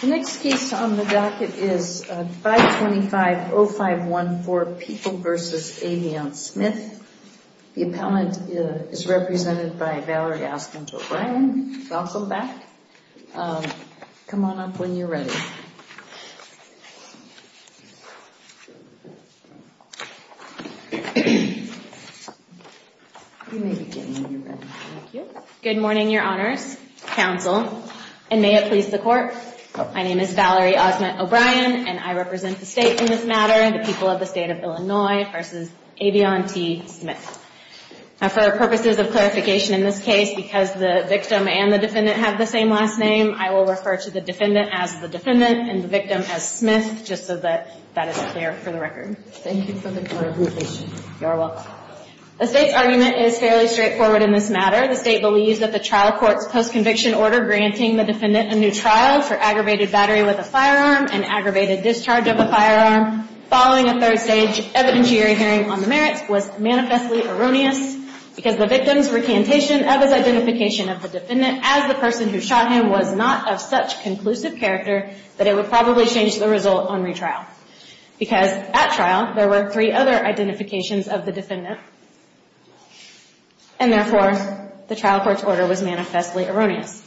The next case on the docket is 525-0514, People v. Avion Smith. The appellant is represented by Valerie Aspen for Bryan. Welcome back. Come on up when you're ready. Good morning, your honors, counsel, and may it please the court. My name is Valerie Osment O'Brien, and I represent the state in this matter, the People of the State of Illinois v. Avion T. Smith. For purposes of clarification in this case, because the victim and the defendant have the same last name, I will refer to the defendant as the defendant and the victim as Smith, just so that that is clear for the record. Thank you for the clarification. You're welcome. The state's argument is fairly straightforward in this matter. The state believes that the trial court's post-conviction order granting the defendant a new trial for aggravated battery with a firearm and aggravated discharge of a firearm following a third-stage evidentiary hearing on the merits was manifestly erroneous because the victim's recantation of his identification of the defendant as the person who shot him was not of such conclusive character that it would probably change the result on retrial. Because at trial, there were three other identifications of the defendant. And therefore, the trial court's order was manifestly erroneous.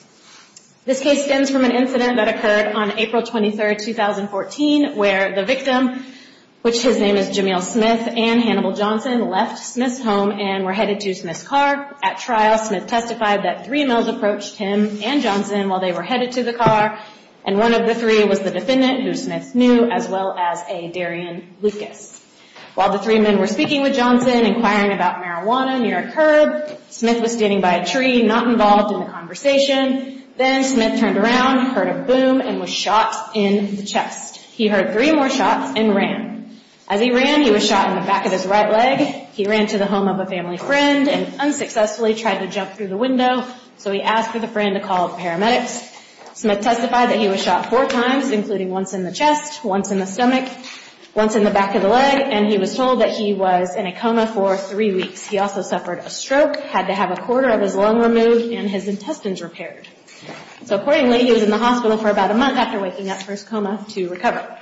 This case stems from an incident that occurred on April 23, 2014, where the victim, which his name is Jameel Smith, and Hannibal Johnson, left Smith's home and were headed to Smith's car. At trial, Smith testified that three males approached him and Johnson while they were headed to the car, and one of the three was the defendant, who Smith knew, as well as a Darian Lucas. While the three men were speaking with Johnson, inquiring about marijuana near a curb, Smith was standing by a tree, not involved in the conversation. Then Smith turned around, heard a boom, and was shot in the chest. He heard three more shots and ran. As he ran, he was shot in the back of his right leg. He ran to the home of a family friend and unsuccessfully tried to jump through the window, so he asked for the friend to call paramedics. Smith testified that he was shot four times, including once in the chest, once in the stomach, once in the back of the leg, and he was told that he was in a coma for three weeks. He also suffered a stroke, had to have a quarter of his lung removed, and his intestines repaired. So, accordingly, he was in the hospital for about a month after waking up from his coma to recover.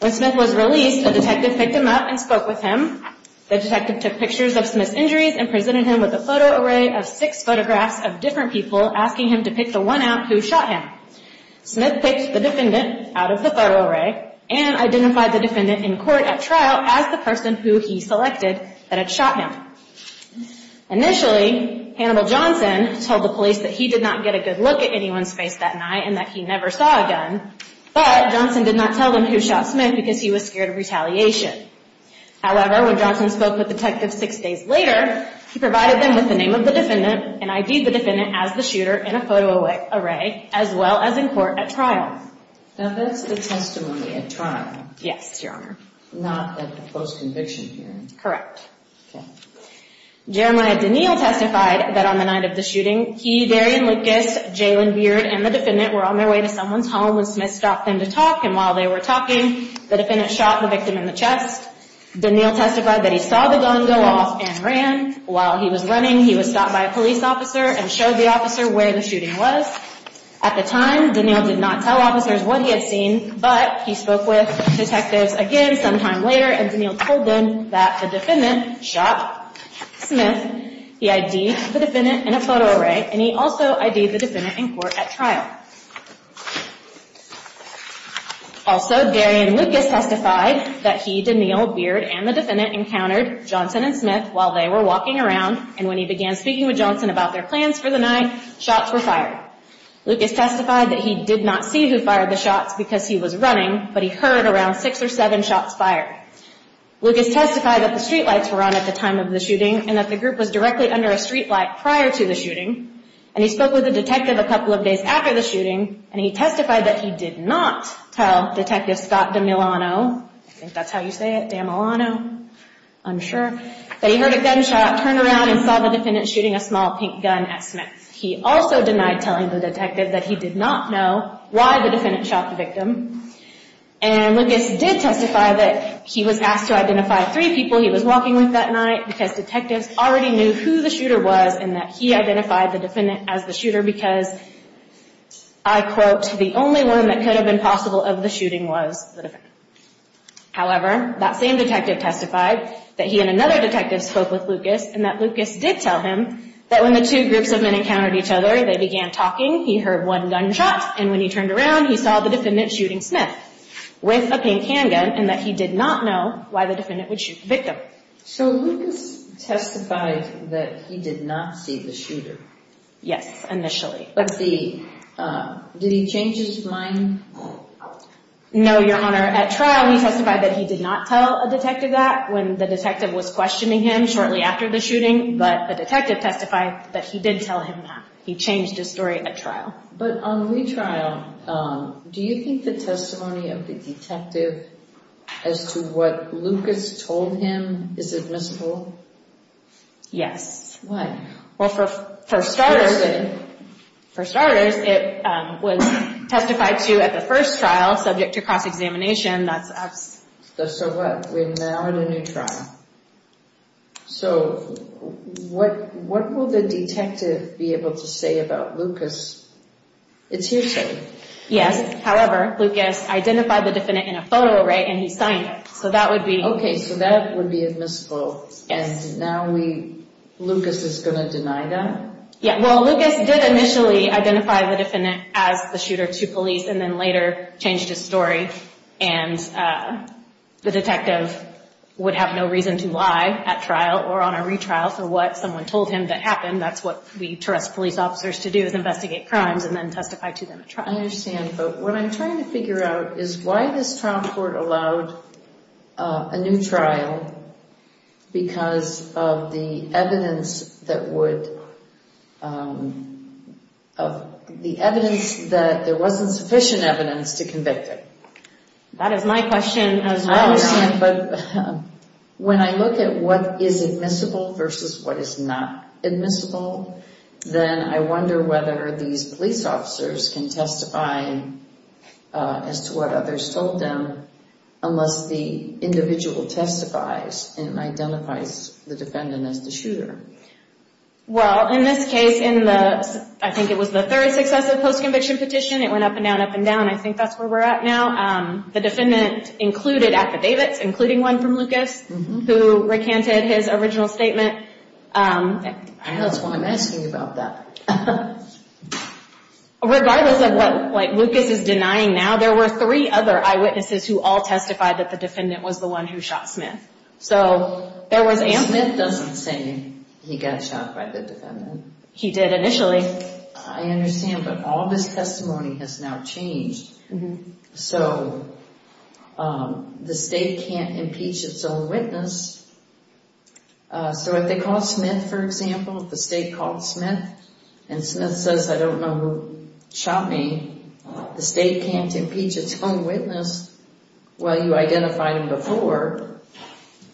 When Smith was released, a detective picked him up and spoke with him. The detective took pictures of Smith's injuries and presented him with a photo array of six photographs of different people, asking him to pick the one out who shot him. Smith picked the defendant out of the photo array and identified the defendant in court at trial as the person who he selected that had shot him. Initially, Hannibal Johnson told the police that he did not get a good look at anyone's face that night and that he never saw a gun, but Johnson did not tell them who shot Smith because he was scared of retaliation. However, when Johnson spoke with detectives six days later, he provided them with the name of the defendant and ID'd the defendant as the shooter in a photo array, as well as in court at trial. Now, that's the testimony at trial? Yes, Your Honor. Not at the post-conviction hearing? Correct. Okay. Jeremiah DeNeal testified that on the night of the shooting, he, Darian Lucas, Jalen Beard, and the defendant were on their way to someone's home when Smith stopped them to talk, and while they were talking, the defendant shot the victim in the chest. DeNeal testified that he saw the gun go off and ran. While he was running, he was stopped by a police officer and showed the officer where the shooting was. At the time, DeNeal did not tell officers what he had seen, but he spoke with detectives again sometime later, and DeNeal told them that the defendant shot Smith. He ID'd the defendant in a photo array, and he also ID'd the defendant in court at trial. Also, Darian Lucas testified that he, DeNeal, Beard, and the defendant encountered Johnson and Smith while they were walking around, and when he began speaking with Johnson about their plans for the night, shots were fired. Lucas testified that he did not see who fired the shots because he was running, but he heard around six or seven shots fired. Lucas testified that the streetlights were on at the time of the shooting, and that the group was directly under a streetlight prior to the shooting, and he spoke with the detective a couple of days after the shooting, and he testified that he did not tell Detective Scott DeMilano, I think that's how you say it, DeMilano, I'm sure, that he heard a gunshot, turned around, and saw the defendant shooting a small pink gun at Smith. He also denied telling the detective that he did not know why the defendant shot the victim, and Lucas did testify that he was asked to identify three people he was walking with that night because detectives already knew who the shooter was, and that he identified the defendant as the shooter because, I quote, the only one that could have been possible of the shooting was the defendant. However, that same detective testified that he and another detective spoke with Lucas, and that Lucas did tell him that when the two groups of men encountered each other, they began talking, he heard one gunshot, and when he turned around, he saw the defendant shooting Smith with a pink handgun, and that he did not know why the defendant would shoot the victim. So Lucas testified that he did not see the shooter. Yes, initially. Let's see, did he change his mind? No, Your Honor. At trial, we testified that he did not tell a detective that when the detective was questioning him shortly after the shooting, but the detective testified that he did tell him that. He changed his story at trial. But on retrial, do you think the testimony of the detective as to what Lucas told him is admissible? Yes. Why? Well, for starters, it was testified to at the first trial, subject to cross-examination, that's us. So what? We're now at a new trial. So what will the detective be able to say about Lucas? It's hearsay. Yes, however, Lucas identified the defendant in a photo array, and he signed it. So that would be— Okay, so that would be admissible. Yes. And now we—Lucas is going to deny that? Yeah, well, Lucas did initially identify the defendant as the shooter to police, and then later changed his story. And the detective would have no reason to lie at trial or on a retrial. So what someone told him that happened, that's what we trust police officers to do, is investigate crimes and then testify to them at trial. I understand. But what I'm trying to figure out is why this trial court allowed a new trial because of the evidence that would—the evidence that there wasn't sufficient evidence to convict him. That is my question as well. But when I look at what is admissible versus what is not admissible, then I wonder whether these police officers can testify as to what others told them unless the individual testifies and identifies the defendant as the shooter. Well, in this case, in the—I think it was the third successive post-conviction petition. It went up and down, up and down. I think that's where we're at now. The defendant included affidavits, including one from Lucas, who recanted his original statement. I know that's why I'm asking you about that. Regardless of what, like, Lucas is denying now, there were three other eyewitnesses who all testified that the defendant was the one who shot Smith. So there was ample— Smith doesn't say he got shot by the defendant. He did initially. I understand, but all of his testimony has now changed. So the state can't impeach its own witness. So if they called Smith, for example, if the state called Smith and Smith says, I don't know who shot me, the state can't impeach its own witness while you identified him before.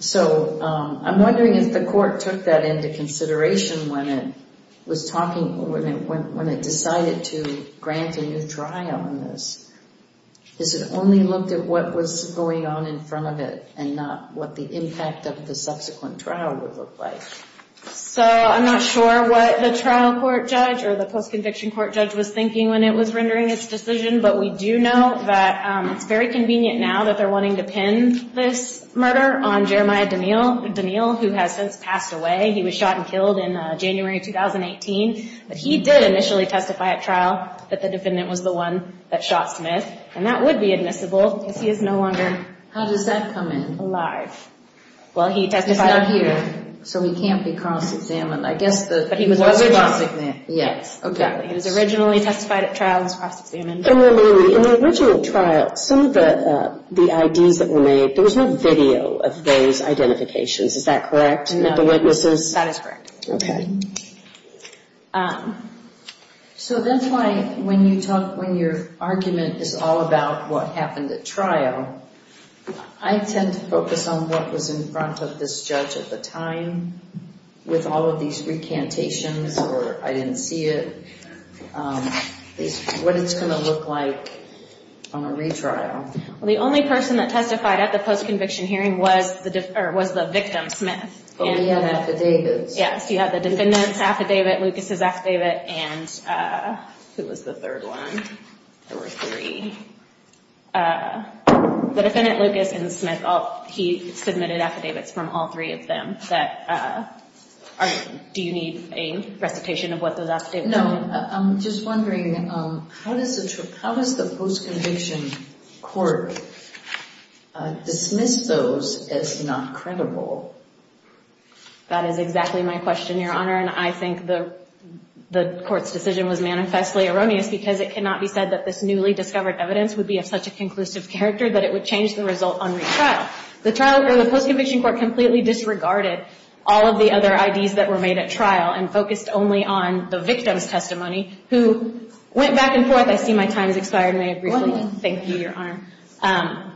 So I'm wondering if the court took that into consideration when it was talking—when it decided to grant a new trial on this. Is it only looked at what was going on in front of it and not what the impact of the subsequent trial would look like? So I'm not sure what the trial court judge or the post-conviction court judge was thinking when it was rendering its decision. But we do know that it's very convenient now that they're wanting to pin this murder on Jeremiah Daniel, who has since passed away. He was shot and killed in January of 2018. But he did initially testify at trial that the defendant was the one that shot Smith. And that would be admissible because he is no longer— How does that come in? —alive. Well, he testified— He's not here, so he can't be cross-examined. I guess the— But he was— —was cross-examined, yes. Exactly. He was originally testified at trial and was cross-examined. And remember, in the original trial, some of the IDs that were made, there was no video of those identifications. Is that correct? No. And that the witnesses— That is correct. Okay. So that's why when you talk—when your argument is all about what happened at trial, I tend to focus on what was in front of this judge at the time with all of these recantations or I didn't see it. What it's going to look like on a retrial. Well, the only person that testified at the post-conviction hearing was the victim, Smith. But we have affidavits. Yes. You have the defendant's affidavit, Lucas' affidavit, and— Who was the third one? There were three. The defendant, Lucas, and Smith, he submitted affidavits from all three of them that are— Do you need a recitation of what those affidavits are? No. I'm just wondering, how does the post-conviction court dismiss those as not credible? That is exactly my question, Your Honor, and I think the court's decision was manifestly erroneous because it cannot be said that this newly discovered evidence would be of such a conclusive character that it would change the result on retrial. The post-conviction court completely disregarded all of the other IDs that were made at trial and focused only on the victim's testimony, who went back and forth. I see my time has expired. May I briefly thank you, Your Honor?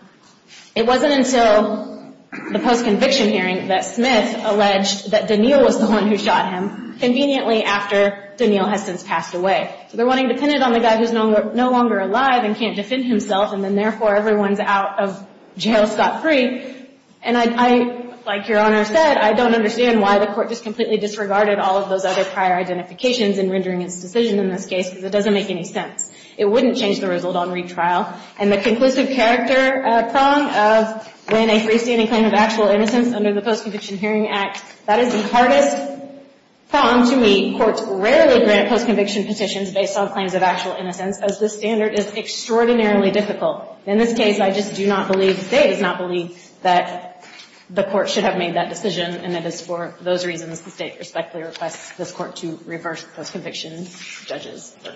It wasn't until the post-conviction hearing that Smith alleged that Daniel was the one who shot him, conveniently after Daniel has since passed away. So they're wanting to pin it on the guy who's no longer alive and can't defend himself, and then therefore everyone's out of jail, scot-free. And I, like Your Honor said, I don't understand why the court just completely disregarded all of those other prior identifications in rendering its decision in this case, because it doesn't make any sense. It wouldn't change the result on retrial. And the conclusive character prong of when a freestanding claim of actual innocence under the Post-Conviction Hearing Act, that is the hardest prong to meet. Courts rarely grant post-conviction petitions based on claims of actual innocence, as this standard is extraordinarily difficult. In this case, I just do not believe, the State does not believe, that the court should have made that decision, and it is for those reasons the State respectfully requests this Court to reverse post-conviction judges. I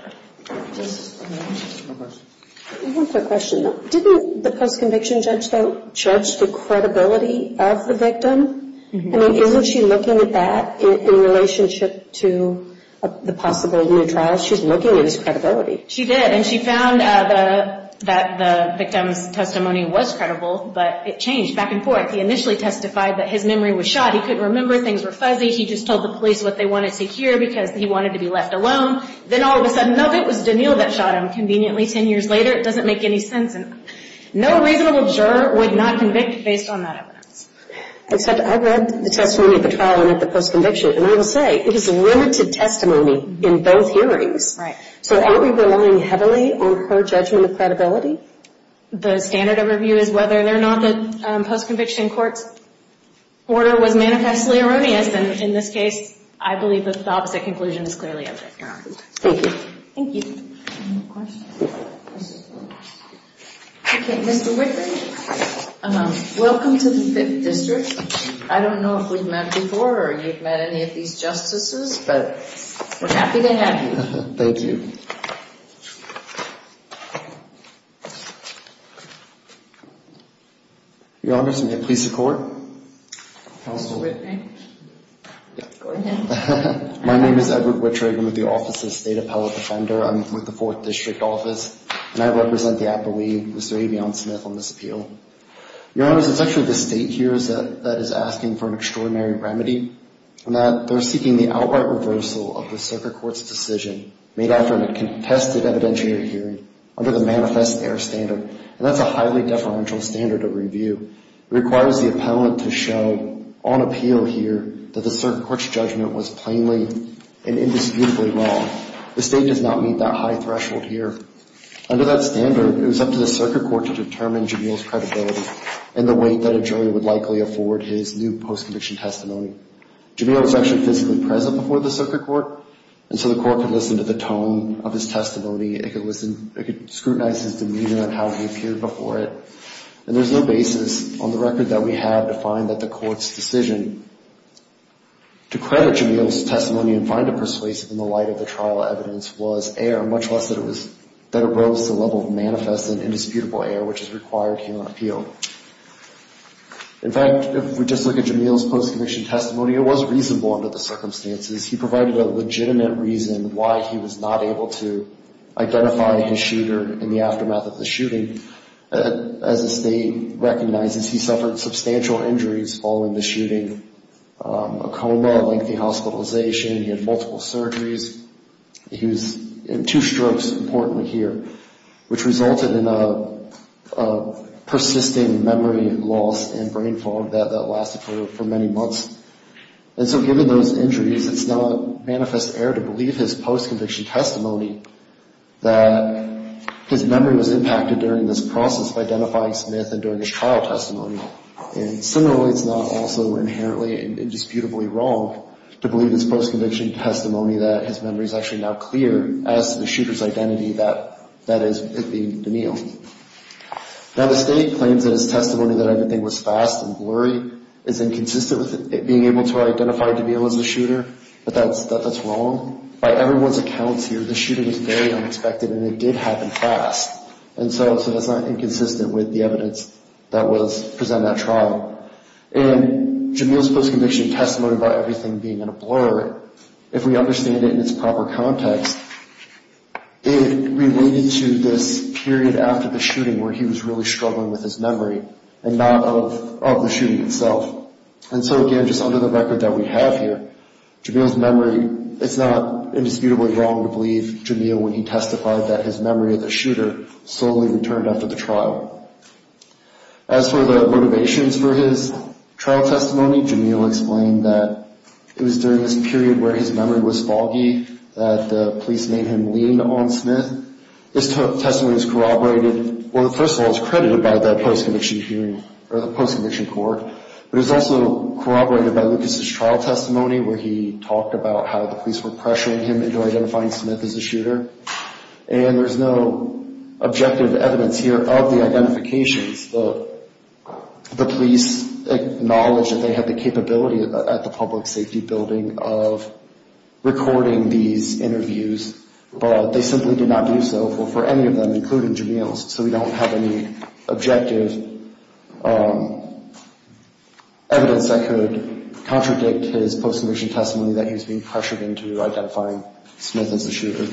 have a question, though. Didn't the post-conviction judge, though, judge the credibility of the victim? I mean, isn't she looking at that in relationship to the possible new trial? She's looking at his credibility. She did, and she found that the victim's testimony was credible, but it changed back and forth. He initially testified that his memory was shot. He couldn't remember. Things were fuzzy. He just told the police what they wanted to hear because he wanted to be left alone. Then all of a sudden, no, it was Daniil that shot him conveniently ten years later. It doesn't make any sense. And no reasonable juror would not convict based on that evidence. I read the testimony of the trial and of the post-conviction, and I will say it is limited testimony in both hearings. Right. So are we relying heavily on her judgment of credibility? The standard of review is whether or not the post-conviction court's order was manifestly erroneous. And in this case, I believe that the opposite conclusion is clearly evident. Thank you. Thank you. Okay, Mr. Whitman, welcome to the Fifth District. I don't know if we've met before or you've met any of these justices, but we're happy to have you. Thank you. Your Honor, may it please the Court? Mr. Whitman. Go ahead. My name is Edward Whitrigan with the Office of the State Appellate Defender. I'm with the Fourth District Office, and I represent the appellee, Mr. Avion Smith, on this appeal. Your Honor, it's actually the state here that is asking for an extraordinary remedy in that they're seeking the outright reversal of the circuit court's decision made after a contested evidentiary hearing under the manifest error standard, and that's a highly deferential standard of review. It requires the appellant to show on appeal here that the circuit court's judgment was plainly and indisputably wrong. The state does not meet that high threshold here. Under that standard, it was up to the circuit court to determine Jamil's credibility and the weight that a jury would likely afford his new post-conviction testimony. Jamil was actually physically present before the circuit court, and so the court could listen to the tone of his testimony. It could scrutinize his demeanor and how he appeared before it, and there's no basis on the record that we have to find that the court's decision to credit Jamil's testimony and find it persuasive in the light of the trial evidence was error, In fact, if we just look at Jamil's post-conviction testimony, it was reasonable under the circumstances. He provided a legitimate reason why he was not able to identify his shooter in the aftermath of the shooting. As the state recognizes, he suffered substantial injuries following the shooting, a coma, lengthy hospitalization. He had multiple surgeries. He was in two strokes, importantly, here, which resulted in a persisting memory loss and brain fog that lasted for many months. And so given those injuries, it's not manifest error to believe his post-conviction testimony that his memory was impacted during this process of identifying Smith and during his trial testimony. And similarly, it's not also inherently and indisputably wrong to believe his post-conviction testimony that his memory is actually now clear as to the shooter's identity, that is, it being Jamil. Now, the state claims that his testimony that everything was fast and blurry is inconsistent with it being able to identify Jamil as a shooter, but that's wrong. By everyone's accounts here, the shooting was very unexpected, and it did happen fast. And so that's not inconsistent with the evidence that was presented at trial. And Jamil's post-conviction testimony about everything being in a blur, if we understand it in its proper context, it related to this period after the shooting where he was really struggling with his memory and not of the shooting itself. And so, again, just under the record that we have here, Jamil's memory, it's not indisputably wrong to believe Jamil when he testified that his memory of the shooter solely returned after the trial. As for the motivations for his trial testimony, Jamil explained that it was during this period where his memory was foggy that the police made him lean on Smith. This testimony is corroborated, well, first of all, it's credited by the post-conviction hearing or the post-conviction court, but it was also corroborated by Lucas's trial testimony where he talked about how the police were pressuring him into identifying Smith as a shooter. And there's no objective evidence here of the identifications. The police acknowledged that they had the capability at the public safety building of recording these interviews, but they simply did not do so for any of them, including Jamil's, so we don't have any objective evidence that could contradict his post-conviction testimony that he was being pressured into identifying Smith as a shooter.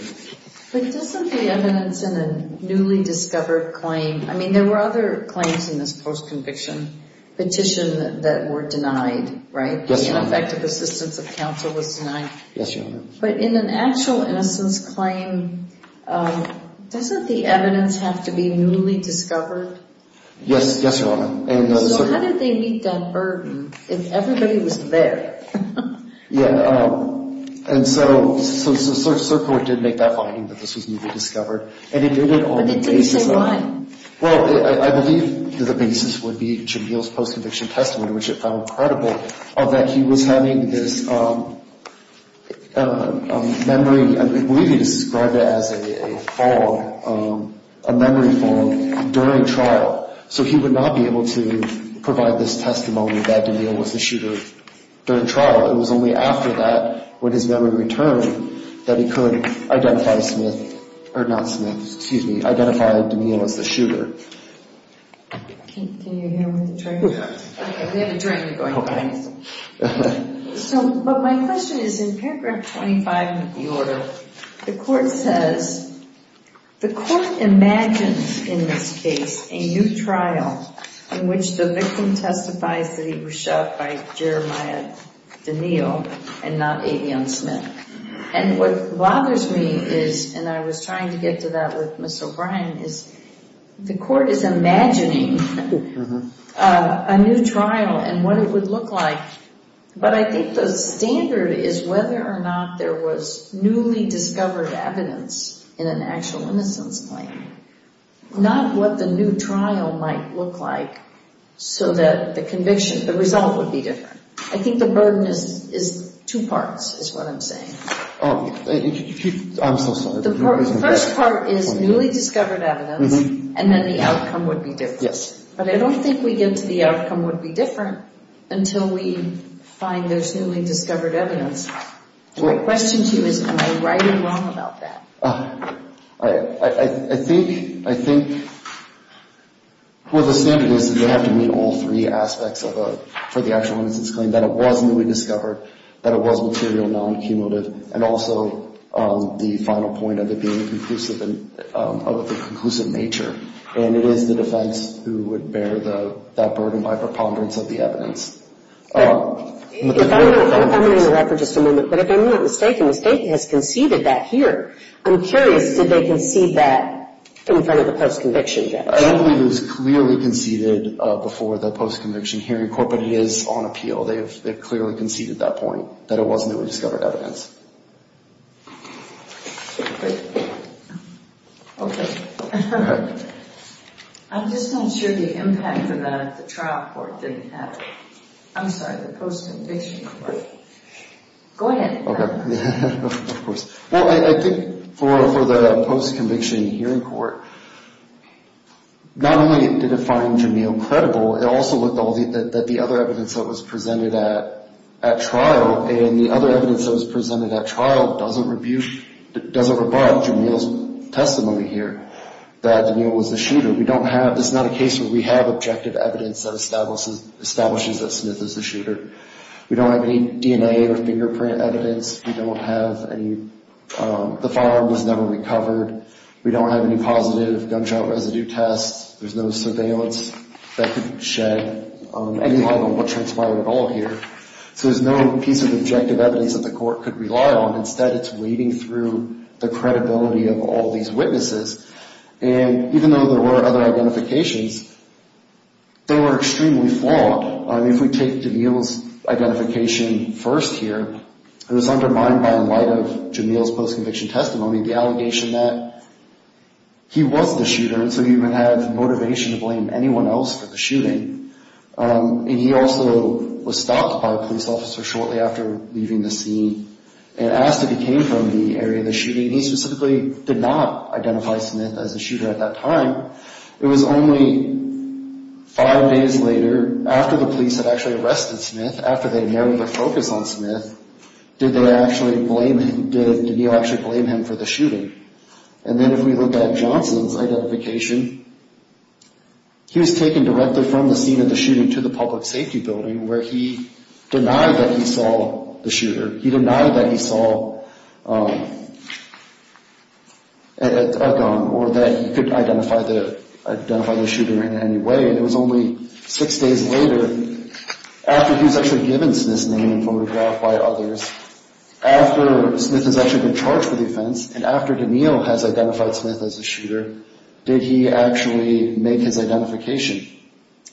But doesn't the evidence in a newly discovered claim, I mean, there were other claims in this post-conviction petition that were denied, right? Yes, Your Honor. The ineffective assistance of counsel was denied. Yes, Your Honor. But in an actual innocence claim, doesn't the evidence have to be newly discovered? Yes, Your Honor. So how did they meet that burden if everybody was there? Yeah. And so Circo did make that finding that this was newly discovered, and it did on the basis of But they didn't say why. Well, I believe that the basis would be Jamil's post-conviction testimony, which it found credible that he was having this memory, I believe he described it as a fog, a memory fog during trial, so he would not be able to provide this testimony that Jamil was the shooter during trial. It was only after that, when his memory returned, that he could identify Smith, or not Smith, excuse me, identify Jamil as the shooter. Can you hear me? Okay, we have a journey going on. So, but my question is, in paragraph 25 of the order, the court says, the court imagines in this case a new trial in which the victim testifies that he was shot by Jeremiah DeNeal and not Adion Smith. And what bothers me is, and I was trying to get to that with Ms. O'Brien, is the court is imagining a new trial and what it would look like, but I think the standard is whether or not there was newly discovered evidence in an actual innocence claim, not what the new trial might look like, so that the conviction, the result would be different. I think the burden is two parts, is what I'm saying. Oh, I'm so sorry. The first part is newly discovered evidence, and then the outcome would be different. Yes. But I don't think we get to the outcome would be different until we find there's newly discovered evidence. My question to you is, am I right or wrong about that? I think, well, the standard is that they have to meet all three aspects for the actual innocence claim, that it was newly discovered, that it was material, non-cumulative, and also the final point of it being conclusive in nature. And it is the defense who would bear that burden by preponderance of the evidence. I'm going to interrupt for just a moment, but if I'm not mistaken, the state has conceded that here. I'm curious, did they concede that in front of the post-conviction judge? I don't believe it was clearly conceded before the post-conviction hearing, but it is on appeal. They have clearly conceded that point, that it was newly discovered evidence. Okay. I'm just not sure the impact of that the trial court didn't have. I'm sorry, the post-conviction court. Go ahead. Okay. Of course. Well, I think for the post-conviction hearing court, not only did it find Jamil credible, it also looked at the other evidence that was presented at trial, and the other evidence that was presented at trial doesn't rebut Jamil's testimony here, that Jamil was the shooter. It's not a case where we have objective evidence that establishes that Smith is the shooter. We don't have any DNA or fingerprint evidence. We don't have any, the firearm was never recovered. We don't have any positive gunshot residue tests. There's no surveillance that could shed any light on what transpired at all here. So there's no piece of objective evidence that the court could rely on. Instead, it's wading through the credibility of all these witnesses. And even though there were other identifications, they were extremely flawed. If we take Jamil's identification first here, it was undermined by, in light of Jamil's post-conviction testimony, the allegation that he was the shooter, and so he would have motivation to blame anyone else for the shooting. And he also was stopped by a police officer shortly after leaving the scene and asked if he came from the area of the shooting, and he specifically did not identify Smith as the shooter at that time. It was only five days later, after the police had actually arrested Smith, after they had narrowed their focus on Smith, did they actually blame him, did Jamil actually blame him for the shooting? And then if we look at Johnson's identification, he was taken directly from the scene of the shooting to the public safety building where he denied that he saw the shooter. He denied that he saw a gun or that he could identify the shooter in any way, and it was only six days later, after he was actually given Smith's name and photographed by others, after Smith has actually been charged for the offense, and after Jamil has identified Smith as the shooter, did he actually make his identification?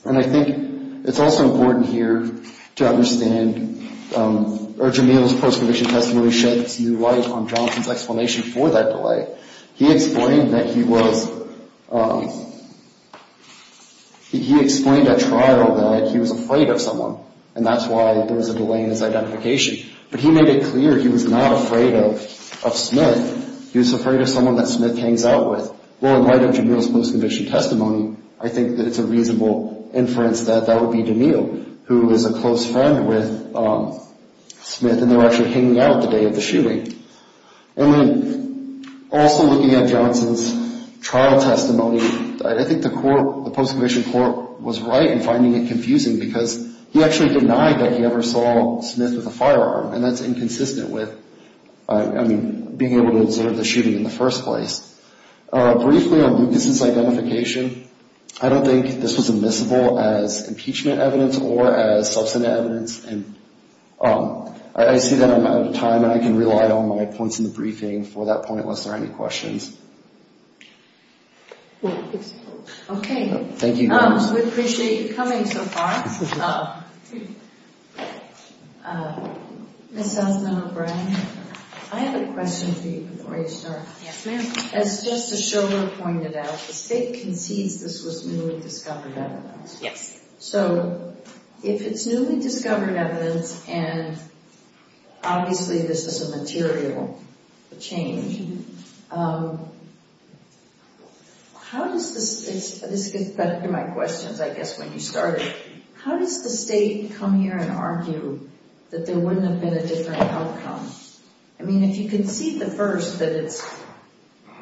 And I think it's also important here to understand, or Jamil's post-conviction testimony sheds new light on Johnson's explanation for that delay. He explained that he was, he explained at trial that he was afraid of someone, and that's why there was a delay in his identification. But he made it clear he was not afraid of Smith. He was afraid of someone that Smith hangs out with. Well, in light of Jamil's post-conviction testimony, I think that it's a reasonable inference that that would be Jamil, who is a close friend with Smith, and they were actually hanging out the day of the shooting. And then also looking at Johnson's trial testimony, I think the court, the post-conviction court was right in finding it confusing because he actually denied that he ever saw Smith with a firearm, and that's inconsistent with, I mean, being able to observe the shooting in the first place. Briefly on Lucas' identification, I don't think this was admissible as impeachment evidence or as substantive evidence, and I see that I'm out of time, and I can rely on my points in the briefing for that point unless there are any questions. Okay. Thank you. We appreciate you coming so far. Ms. Sussman O'Brien, I have a question for you before you start. Yes, ma'am. As Justice Schiller pointed out, the State concedes this was newly discovered evidence. Yes. So if it's newly discovered evidence, and obviously this is a material change, how does the State come here and argue that there wouldn't have been a different outcome? I mean, if you concede the first that it's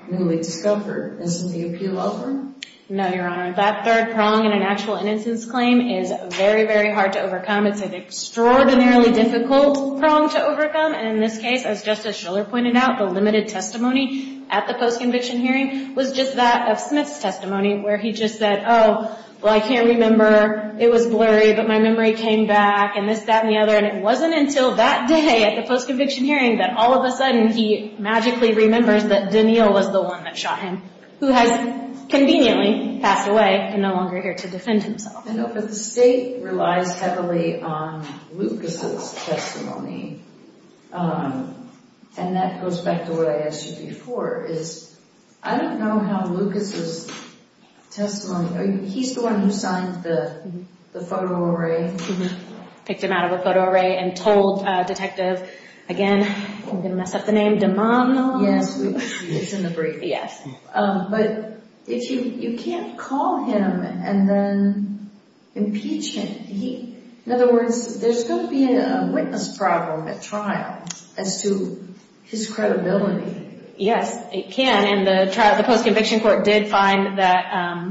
newly discovered, isn't the appeal over? No, Your Honor. That third prong in an actual innocence claim is very, very hard to overcome. It's an extraordinarily difficult prong to overcome, and in this case, as Justice Schiller pointed out, the limited testimony at the post-conviction hearing was just that of Smith's testimony, where he just said, oh, well, I can't remember. It was blurry, but my memory came back, and this, that, and the other, and it wasn't until that day at the post-conviction hearing that all of a sudden he magically remembers that Danielle was the one that shot him, who has conveniently passed away and no longer here to defend himself. I know, but the State relies heavily on Lucas' testimony, and that goes back to what I asked you before, is I don't know how Lucas' testimony, he's the one who signed the photo array. Picked him out of a photo array and told Detective, again, I'm going to mess up the name, DeMano. Yes, it's in the brief. Yes. But you can't call him and then impeach him. In other words, there's going to be a witness problem at trial as to his credibility. Yes, it can, and the post-conviction court did find that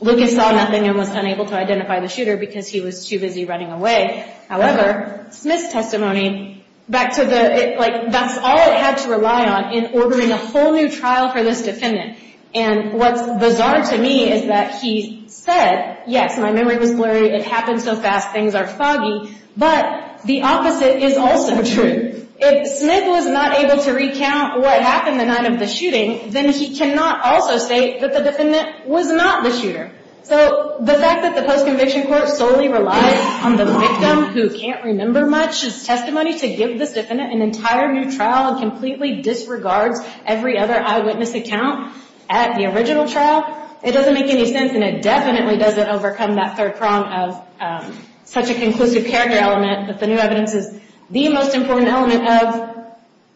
Lucas saw nothing and was unable to identify the shooter because he was too busy running away. However, Smith's testimony, back to the, like, that's all it had to rely on in ordering a whole new trial for this defendant. And what's bizarre to me is that he said, yes, my memory was blurry, it happened so fast, things are foggy, but the opposite is also true. If Smith was not able to recount what happened the night of the shooting, then he cannot also state that the defendant was not the shooter. So the fact that the post-conviction court solely relies on the victim, who can't remember much of his testimony, to give this defendant an entire new trial and completely disregards every other eyewitness account at the original trial, it doesn't make any sense and it definitely doesn't overcome that third prong of such a conclusive character element that the new evidence is the most important element of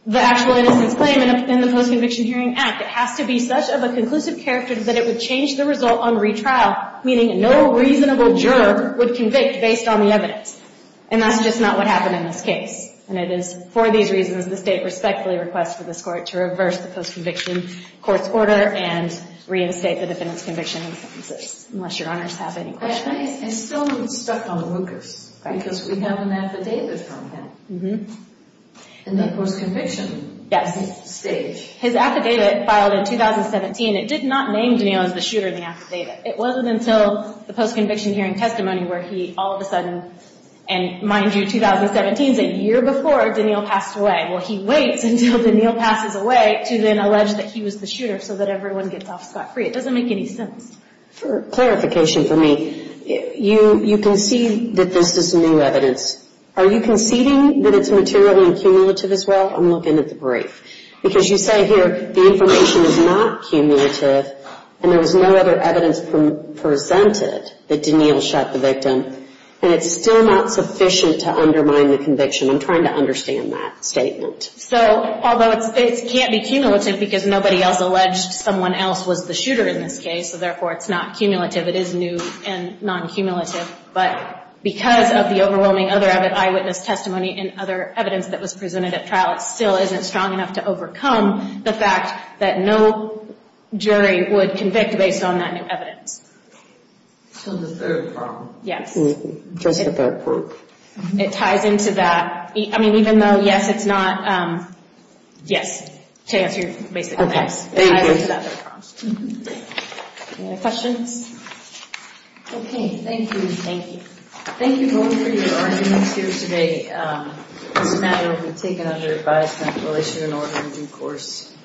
the actual innocence claim in the Post-Conviction Hearing Act. It has to be such of a conclusive character that it would change the result on retrial, meaning no reasonable juror would convict based on the evidence. And that's just not what happened in this case. And it is for these reasons the state respectfully requests for this court to reverse the post-conviction court's order and reinstate the defendant's conviction in sentences, unless your honors have any questions. I still haven't stuck on Lucas, because we have an affidavit on him. Mm-hmm. And that post-conviction... Yes. ...stage. His affidavit filed in 2017, it did not name Daniel as the shooter in the affidavit. It wasn't until the post-conviction hearing testimony where he all of a sudden, and mind you, 2017 is a year before Daniel passed away. Well, he waits until Daniel passes away to then allege that he was the shooter so that everyone gets off scot-free. It doesn't make any sense. For clarification for me, you concede that this is new evidence. Are you conceding that it's material and cumulative as well? I'm looking at the brief. Because you say here the information is not cumulative and there was no other evidence presented that Daniel shot the victim, and it's still not sufficient to undermine the conviction. I'm trying to understand that statement. So although it can't be cumulative because nobody else alleged someone else was the shooter in this case, so therefore it's not cumulative, it is new and non-cumulative, but because of the overwhelming other eyewitness testimony and other evidence that was presented at trial, it still isn't strong enough to overcome the fact that no jury would convict based on that new evidence. So the third problem. Yes. Just at that point. It ties into that. I mean, even though, yes, it's not, yes, to answer your basic question. Okay. Thank you. Any other questions? Okay. Thank you. Thank you. Thank you both for your arguments here today. This matter has been taken under advised contemplation in order in due course.